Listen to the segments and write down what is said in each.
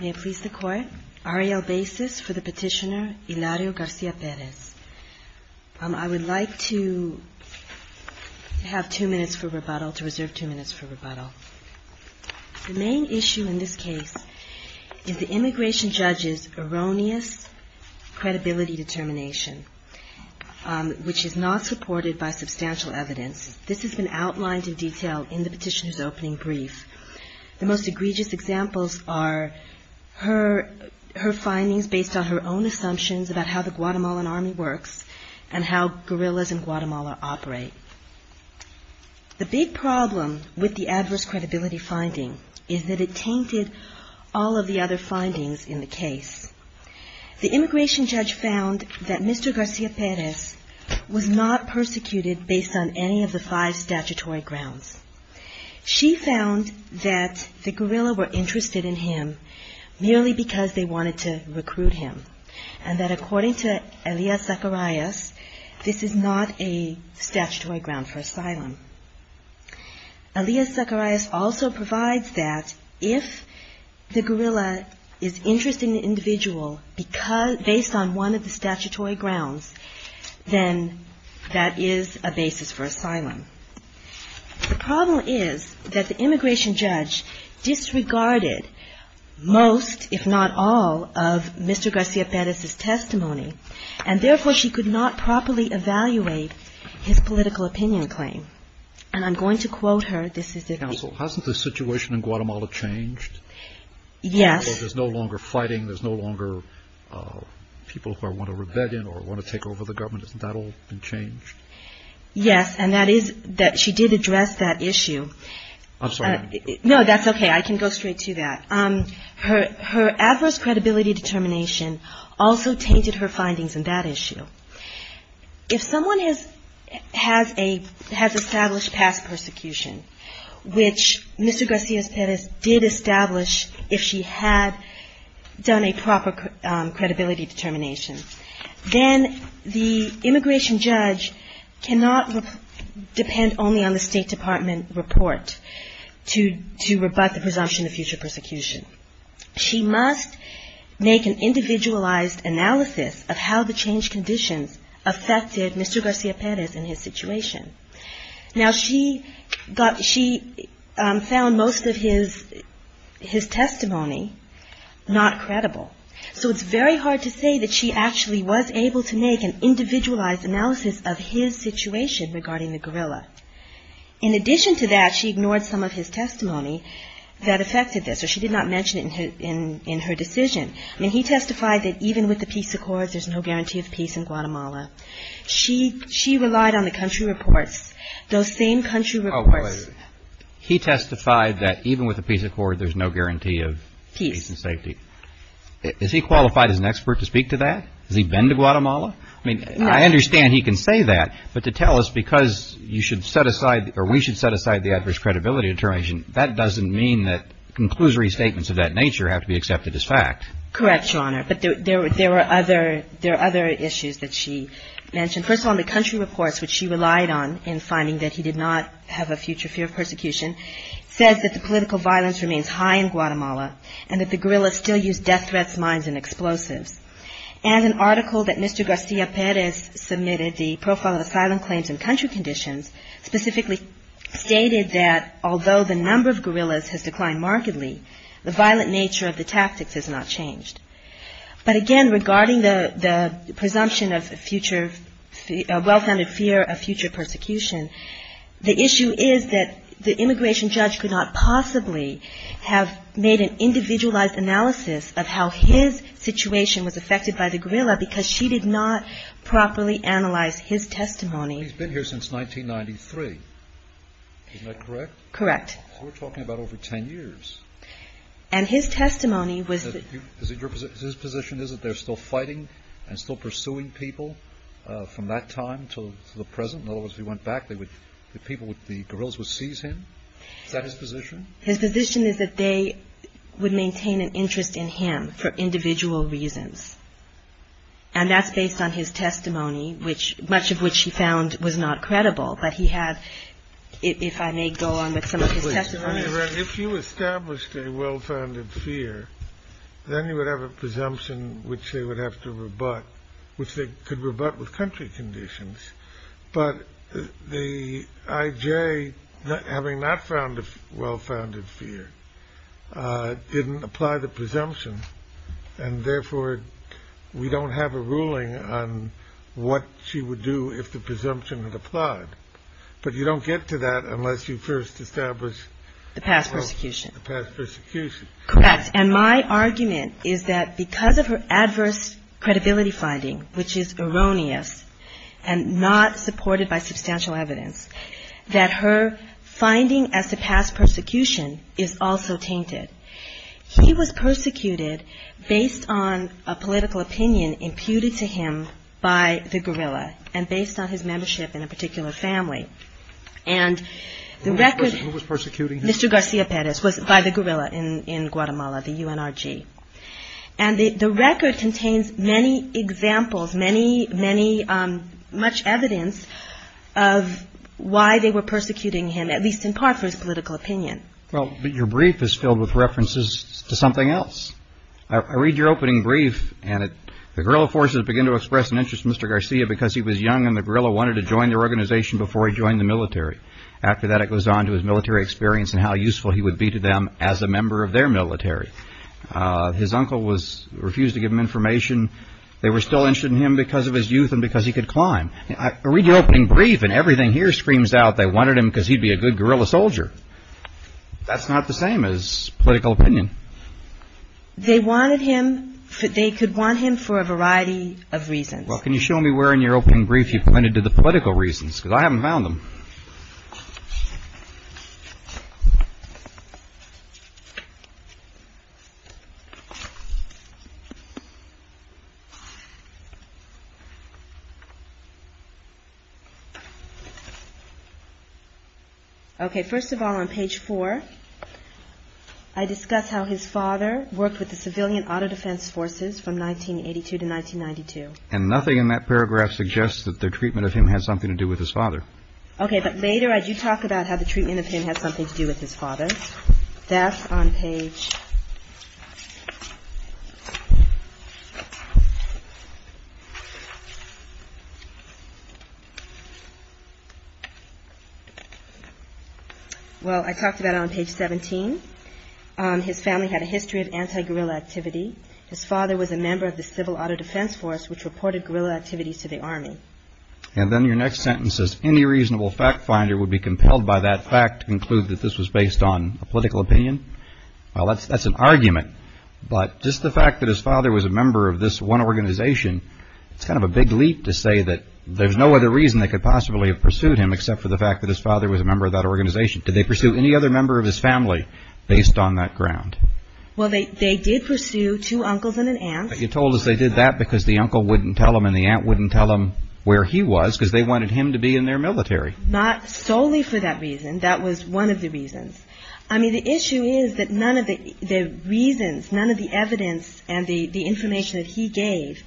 May it please the Court, R.A.L. basis for the petitioner, Hilario García Pérez. I would like to have two minutes for rebuttal, to reserve two minutes for rebuttal. The main issue in this case is the immigration judge's erroneous credibility determination, which is not supported by substantial evidence. This has been outlined in detail in the petitioner's her findings based on her own assumptions about how the Guatemalan Army works and how guerrillas in Guatemala operate. The big problem with the adverse credibility finding is that it tainted all of the other findings in the case. The immigration judge found that Mr. García Pérez was not persecuted based on any of the five statutory grounds. She found that the guerrilla were interested in him merely because they wanted to recruit him, and that according to Elias Zacharias, this is not a statutory ground for asylum. Elias Zacharias also provides that if the guerrilla is interested in an individual based on one of the statutory grounds, then that is a basis for asylum. The problem is that the immigration judge disregarded most, if not all, of Mr. García Pérez's testimony, and therefore she could not properly evaluate his political opinion claim. And I'm going to quote her. This is the- Counsel, hasn't the situation in Guatemala changed? Yes. So there's no longer fighting, there's no longer people who want a rebellion or want to take over the government. Hasn't that all been changed? Yes, and that is that she did address that issue. I'm sorry. No, that's okay. I can go straight to that. Her adverse credibility determination also tainted her findings in that issue. If someone has established past persecution, which Mr. García Pérez did establish if she had done a proper credibility determination, then the immigration judge cannot depend only on the State Department report to rebut the presumption of future persecution. She must make an individualized analysis of how the changed conditions affected Mr. García Pérez and his situation. Now she found most of his testimony not credible, so it's very hard to say that she actually was able to make an individualized analysis of his situation regarding the guerrilla. In addition to that, she ignored some of his testimony that affected this, or she did not mention it in her decision. I mean, he testified that even with the peace accords, there's no guarantee of peace in Guatemala. She relied on the country reports, those same country reports. He testified that even with the peace accord, there's no guarantee of peace and safety. Is he qualified as an expert to speak to that? Has he been to Guatemala? I mean, I understand he can say that, but to tell us because you should set aside, or we should set aside the adverse credibility determination, that doesn't mean that conclusory statements of that nature have to be accepted as fact. Correct, Your Honor, but there were other issues that she mentioned. First of all, in the country reports, which she relied on in finding that he did not have a future fear of persecution, says that the political violence remains high in Guatemala and that the guerrilla still use death threats, mines, and explosives. And an article that Mr. Garcia Perez submitted, the Profile of Asylum Claims in Country Conditions, specifically stated that although the number of guerrillas has declined markedly, the violent nature of the tactics has not changed. But again, regarding the presumption of future, well-founded fear of future persecution, the analysis of how his situation was affected by the guerrilla, because she did not properly analyze his testimony. He's been here since 1993. Isn't that correct? Correct. So we're talking about over 10 years. And his testimony was that His position is that they're still fighting and still pursuing people from that time to the present? In other words, if he went back, the people, the guerrillas would seize him? Is that his position? His position is that they would maintain an interest in him for individual reasons. And that's based on his testimony, which much of which he found was not credible. But he had, if I may go on with some of his testimony. If you established a well-founded fear, then you would have a presumption which they would have to rebut, which they could rebut with country conditions. But the IJ, having not found a well-founded fear, didn't apply the presumption. And therefore, we don't have a ruling on what she would do if the presumption had applied. But you don't get to that unless you first establish the past persecution. And my argument is that because of her adverse credibility finding, which is erroneous and not supported by substantial evidence, that her finding as to past persecution is also tainted. He was persecuted based on a political opinion imputed to him by the guerrilla, and based on his membership in a particular family. And the record... Who was persecuting him? Mr. Garcia Perez was, by the guerrilla in Guatemala, the UNRG. And the record contains many examples, much evidence of why they were persecuting him, at least in part for his political opinion. Well, but your brief is filled with references to something else. I read your opening brief, and the guerrilla forces begin to express an interest in Mr. Garcia because he was young and the guerrilla wanted to join their organization before he joined the military. After that, it goes on to his military experience and how useful he would be to them as a member of their military. His uncle refused to give him information. They were still interested in him because of his youth and because he could climb. I read your opening brief and everything here screams out they wanted him because he'd be a good guerrilla soldier. That's not the same as political opinion. They wanted him, they could want him for a variety of reasons. Well, can you show me where in your opening brief you pointed to the political reasons? Because I haven't found them. Okay. First of all, on page four, I discuss how his father worked with the civilian auto defense forces from 1982 to 1992. And nothing in that paragraph suggests that the treatment of him had something to do with his father. Okay. But later, I do talk about how the treatment of him had something to do with his father. That's on page. Well, I talked about it on page 17. His family had a history of anti-guerrilla activity. His father was a member of the civil auto defense force, which reported guerrilla activities to the army. And then your next sentence says, any reasonable fact finder would be compelled by that fact to conclude that this was based on a political opinion. Well, that's an argument. But just the fact that his father was a member of this one organization, it's kind of a big leap to say that there's no other reason they could possibly have pursued him except for the fact that his father was a member of that organization. Did they pursue any other member of his family based on that ground? Well, they did pursue two uncles and an aunt. But you told us they did that because the uncle wouldn't tell them and the aunt wouldn't tell them where he was because they wanted him to be in their military. Not solely for that reason. That was one of the reasons. I mean, the issue is that none of the reasons, none of the evidence and the information that he gave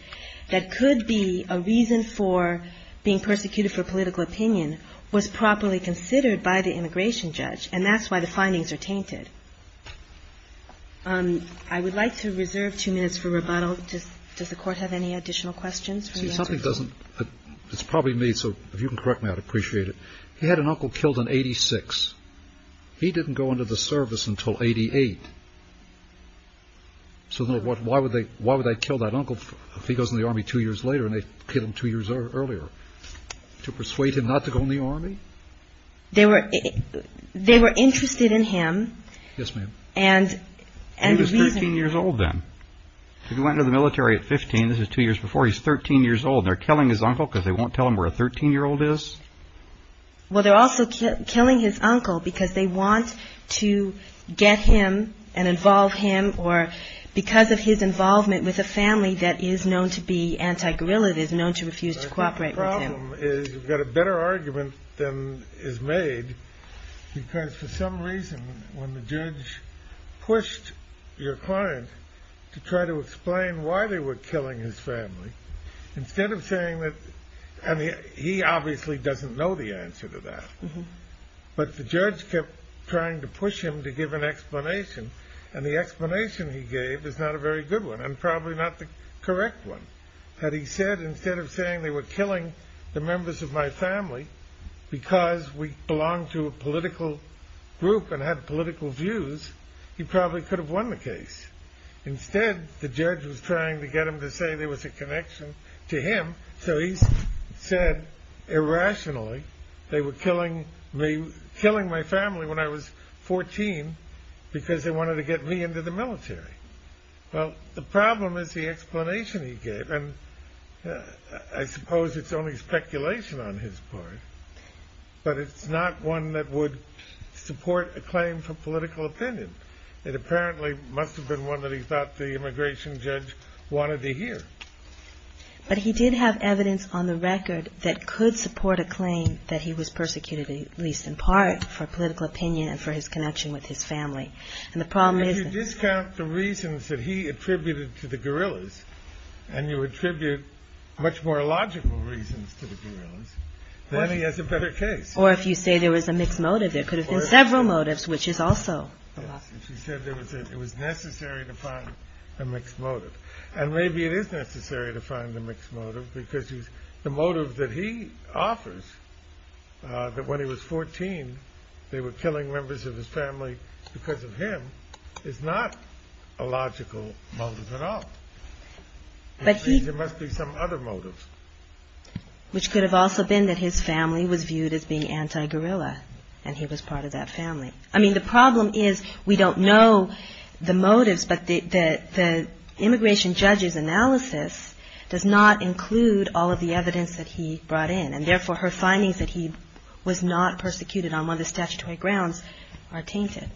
that could be a reason for being persecuted for political opinion was properly considered by the immigration judge. And that's why the findings are tainted. I would like to reserve two minutes for rebuttal. Does the court have any additional questions? See, something doesn't. It's probably me, so if you can correct me, I'd appreciate it. He had an uncle killed in 86. He didn't go into the service until 88. So why would they kill that uncle if he goes in the Army two years later and they kill him two years earlier? They were interested in him. Yes, ma'am. He was 13 years old then. He went into the military at 15. This is two years before. He's 13 years old. They're killing his uncle because they won't tell him where a 13-year-old is? Well, they're also killing his uncle because they want to get him and involve him or because of his involvement with a family that is known to be anti-guerrilla, that is known to refuse to cooperate with him. The problem is you've got a better argument than is made because for some reason when the judge pushed your client to try to explain why they were killing his family, instead of saying that, and he obviously doesn't know the answer to that, but the judge kept trying to push him to give an explanation, and the explanation he gave is not a very good one and probably not the correct one. Instead of saying they were killing the members of my family because we belonged to a political group and had political views, he probably could have won the case. Instead, the judge was trying to get him to say there was a connection to him, so he said, irrationally, they were killing my family when I was 14 because they had political views. The problem is the explanation he gave, and I suppose it's only speculation on his part, but it's not one that would support a claim for political opinion. It apparently must have been one that he thought the immigration judge wanted to hear. But he did have evidence on the record that could support a claim that he was persecuted, at least in part, for political opinion and for his connection with his family. If you discount the reasons that he attributed to the guerrillas, and you attribute much more logical reasons to the guerrillas, then he has a better case. Or if you say there was a mixed motive, there could have been several motives, which is also a loss. If you said it was necessary to find a mixed motive, and maybe it is necessary to find a mixed motive, because the motive that he offers, that when he was 14 they were killing members of his family because of him, is not a logical motive at all. There must be some other motive. Which could have also been that his family was viewed as being anti-guerrilla, and he was part of that family. I mean, the problem is we don't know the motives, but the immigration judge's analysis does not include all of the evidence that he brought in, and therefore her findings that he was not persecuted on one of the statutory grounds are tainted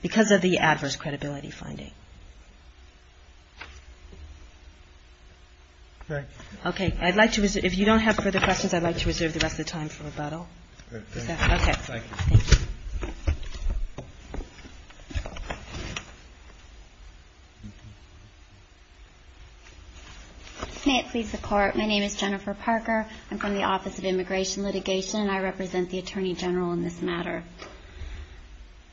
because of the adverse credibility finding. Okay. I'd like to reserve, if you don't have further questions, I'd like to reserve the rest of the time for rebuttal. Okay. Thank you. May it please the Court. My name is Jennifer Parker. I'm from the Office of Immigration Litigation, and I represent the Attorney General in this matter.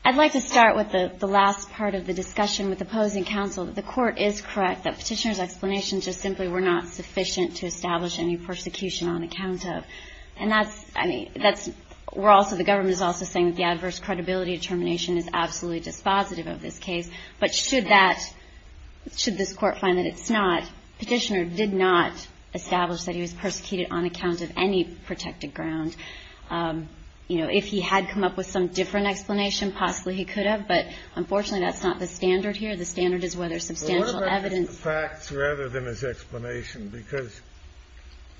I'd like to start with the last part of the discussion with opposing counsel. The Court is correct that Petitioner's explanations just simply were not sufficient to establish any persecution on account of. And that's, I mean, that's, we're also, the government is also saying that the adverse credibility determination is absolutely dispositive of this case. But should that, should this Court find that it's not, Petitioner did not establish that he was persecuted on account of any protected ground? You know, if he had come up with some different explanation, possibly he could have, but unfortunately that's not the standard here. The standard is whether substantial evidence. Well, what about his facts rather than his explanation? Because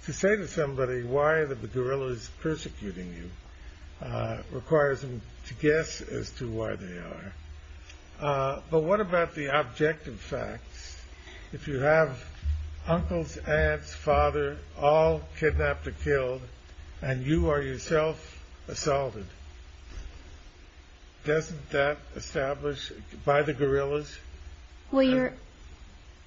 to say to somebody why the guerrilla is persecuting you requires them to guess as to why they are. But what about the objective facts? If you have uncles, aunts, father, all kidnapped or killed, and you are yourself assaulted, doesn't that establish, by the guerrillas? Well,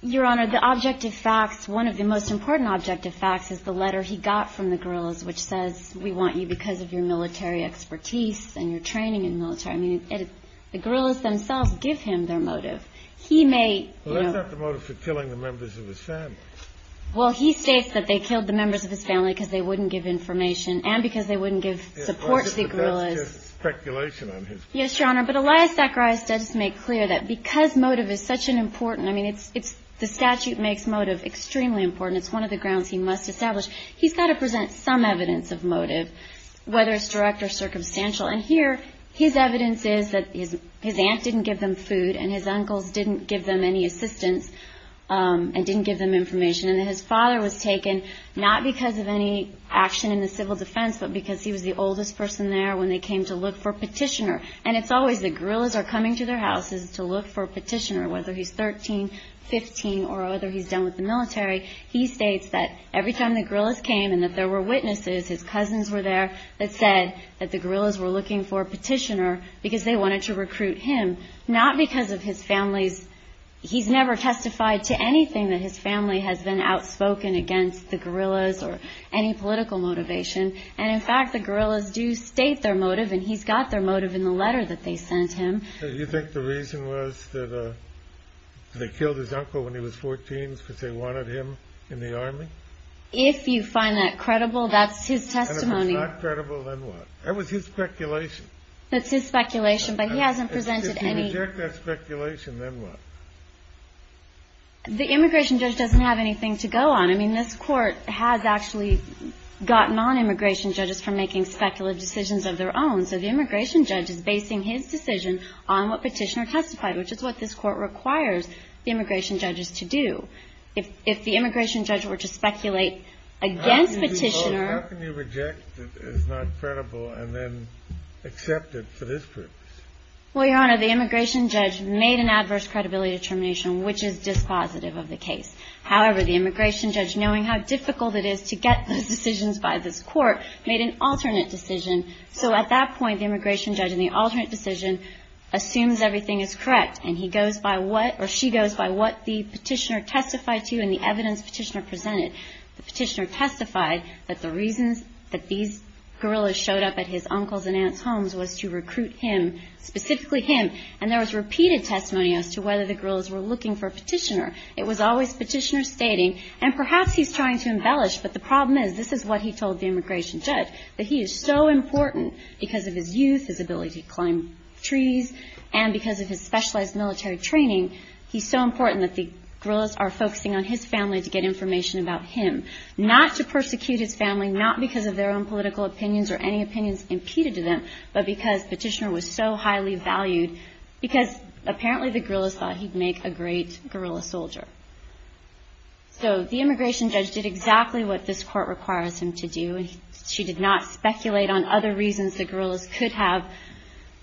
Your Honor, the objective facts, one of the most important objective facts is the letter he got from the guerrillas, which says, we want you because of your military expertise and your training in military. I mean, the guerrillas themselves give him their motive. Well, that's not the motive for killing the members of his family. Well, he states that they killed the members of his family because they wouldn't give information and because they wouldn't give support to the guerrillas. That's just speculation on his part. Yes, Your Honor, but Elias Zacharias does make clear that because motive is such an important, I mean, the statute makes motive extremely important. It's one of the grounds he must establish. He's got to present some evidence of motive, whether it's direct or circumstantial. And here, his evidence is that his aunt didn't give them food and his uncles didn't give them any assistance and didn't give them information. And his father was taken not because of any action in the civil defense, but because he was the oldest person there when they came to look for a petitioner. And it's always the guerrillas are coming to their houses to look for a petitioner, whether he's 13, 15, or whether he's done with the military. He states that every time the guerrillas came and that there were witnesses, his cousins were there that said that the guerrillas were looking for a petitioner because they wanted to recruit him, not because of his family's, he's never testified to anything that his family has been outspoken against the guerrillas or any political motivation. And, in fact, the guerrillas do state their motive, and he's got their motive in the letter that they sent him. Do you think the reason was that they killed his uncle when he was 14 because they wanted him in the army? If you find that credible, that's his testimony. And if it's not credible, then what? That was his speculation. That's his speculation, but he hasn't presented any. And if you reject that speculation, then what? The immigration judge doesn't have anything to go on. I mean, this Court has actually got non-immigration judges from making speculative decisions of their own. So the immigration judge is basing his decision on what petitioner testified, which is what this Court requires the immigration judges to do. If the immigration judge were to speculate against petitioner. How can you reject that it's not credible and then accept it for this purpose? Well, Your Honor, the immigration judge made an adverse credibility determination, which is dispositive of the case. However, the immigration judge, knowing how difficult it is to get those decisions by this Court, made an alternate decision. So at that point, the immigration judge in the alternate decision assumes everything is correct, and he goes by what or she goes by what the petitioner testified to and the evidence petitioner presented. The petitioner testified that the reasons that these gorillas showed up at his uncle's and aunt's homes was to recruit him, specifically him. And there was repeated testimony as to whether the gorillas were looking for a petitioner. It was always petitioner stating, and perhaps he's trying to embellish, but the problem is this is what he told the immigration judge, that he is so important because of his youth, his ability to climb trees, and because of his specialized military training, he's so important that the gorillas are focusing on his family to get information about him. Not to persecute his family, not because of their own political opinions or any opinions impeded to them, but because petitioner was so highly valued, because apparently the gorillas thought he'd make a great gorilla soldier. So the immigration judge did exactly what this Court requires him to do, and she did not speculate on other reasons the gorillas could have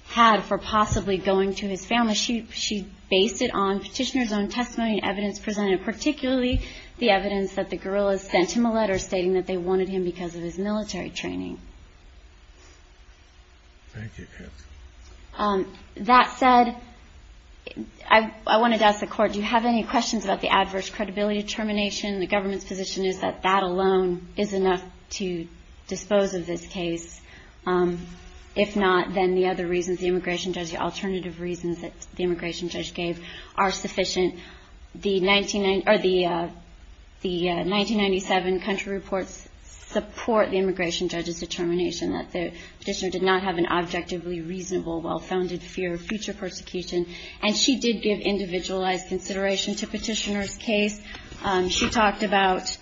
had for possibly going to his family. She based it on petitioner's own testimony and evidence presented, particularly the evidence that the gorillas sent him a letter stating that they wanted him because of his military training. Thank you. That said, I wanted to ask the Court, do you have any questions about the adverse credibility determination? The government's position is that that alone is enough to dispose of this case. If not, then the other reasons the immigration judge, the alternative reasons that the immigration judge gave are sufficient. The 1997 country reports support the immigration judge's determination that the petitioner did not have an objectively reasonable, well-founded fear of future persecution, and she did give individualized consideration to petitioner's case. She talked about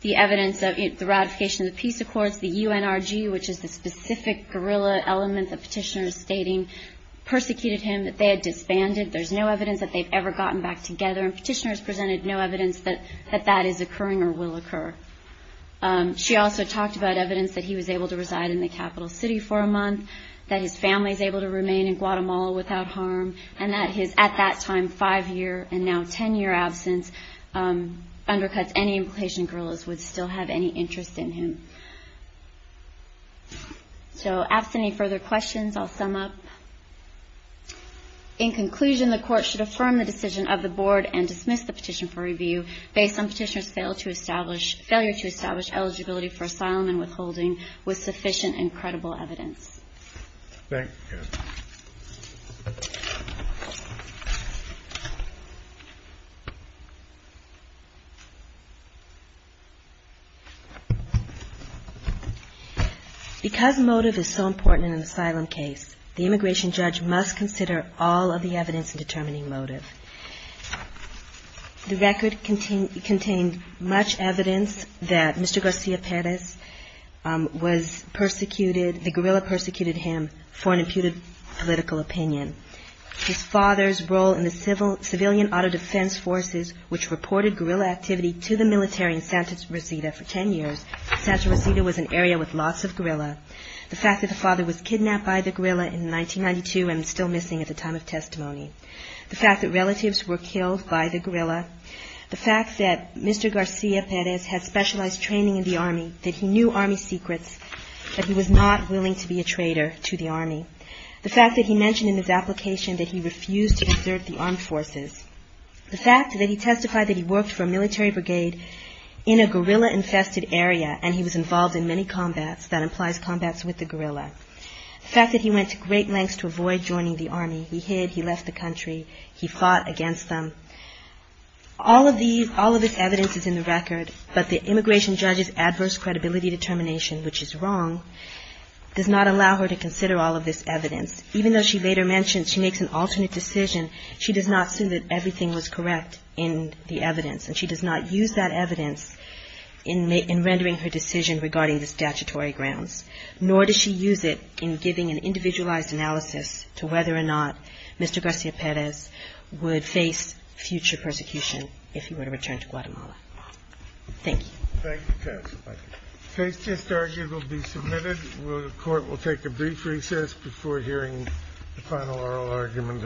the evidence of the ratification of the peace accords, the UNRG, which is the specific gorilla element the petitioner is stating, persecuted him, that they had disbanded, there's no evidence that they've ever gotten back together, and petitioners presented no evidence that that is occurring or will occur. She also talked about evidence that he was able to reside in the capital city for a month, that his family is able to remain in Guatemala without harm, and that his, at that time, five-year and now ten-year absence, undercuts any implication gorillas would still have any interest in him. So, ask any further questions, I'll sum up. In conclusion, the Court should affirm the decision of the Board and dismiss the petition for review based on petitioner's failure to establish eligibility for asylum and withholding with sufficient and credible evidence. Thank you. Because motive is so important in an asylum case, the immigration judge must consider all of the evidence in determining motive. The record contained much evidence that Mr. Garcia Perez was persecuted, the gorilla persecuted him for an imputed political opinion. His father's role in the Civilian Auto Defense Forces, which reported gorilla activity to the military in Santa Rosita for ten years, Santa Rosita was an area with lots of gorilla. The fact that the father was kidnapped by the gorilla in 1992 and is still missing at the time of testimony. The fact that relatives were killed by the gorilla. The fact that Mr. Garcia Perez had specialized training in the Army, that he knew Army secrets, that he was not willing to be a traitor to the Army. The fact that he mentioned in his application that he refused to desert the Armed Forces. The fact that he testified that he worked for a military brigade in a gorilla-infested area and he was involved in many combats, that implies combats with the gorilla. The fact that he went to great lengths to avoid joining the Army. He hid, he left the country, he fought against them. All of this evidence is in the record, but the immigration judge's adverse credibility determination, which is wrong, does not allow her to consider all of this evidence. Even though she later mentions she makes an alternate decision, she does not assume that everything was correct in the evidence. And she does not use that evidence in rendering her decision regarding the statutory grounds. Nor does she use it in giving an individualized analysis to whether or not Mr. Garcia Perez would face future persecution if he were to return to Guatemala. Thank you. Case just argued will be submitted. The court will take a brief recess before hearing the final oral argument of the morning.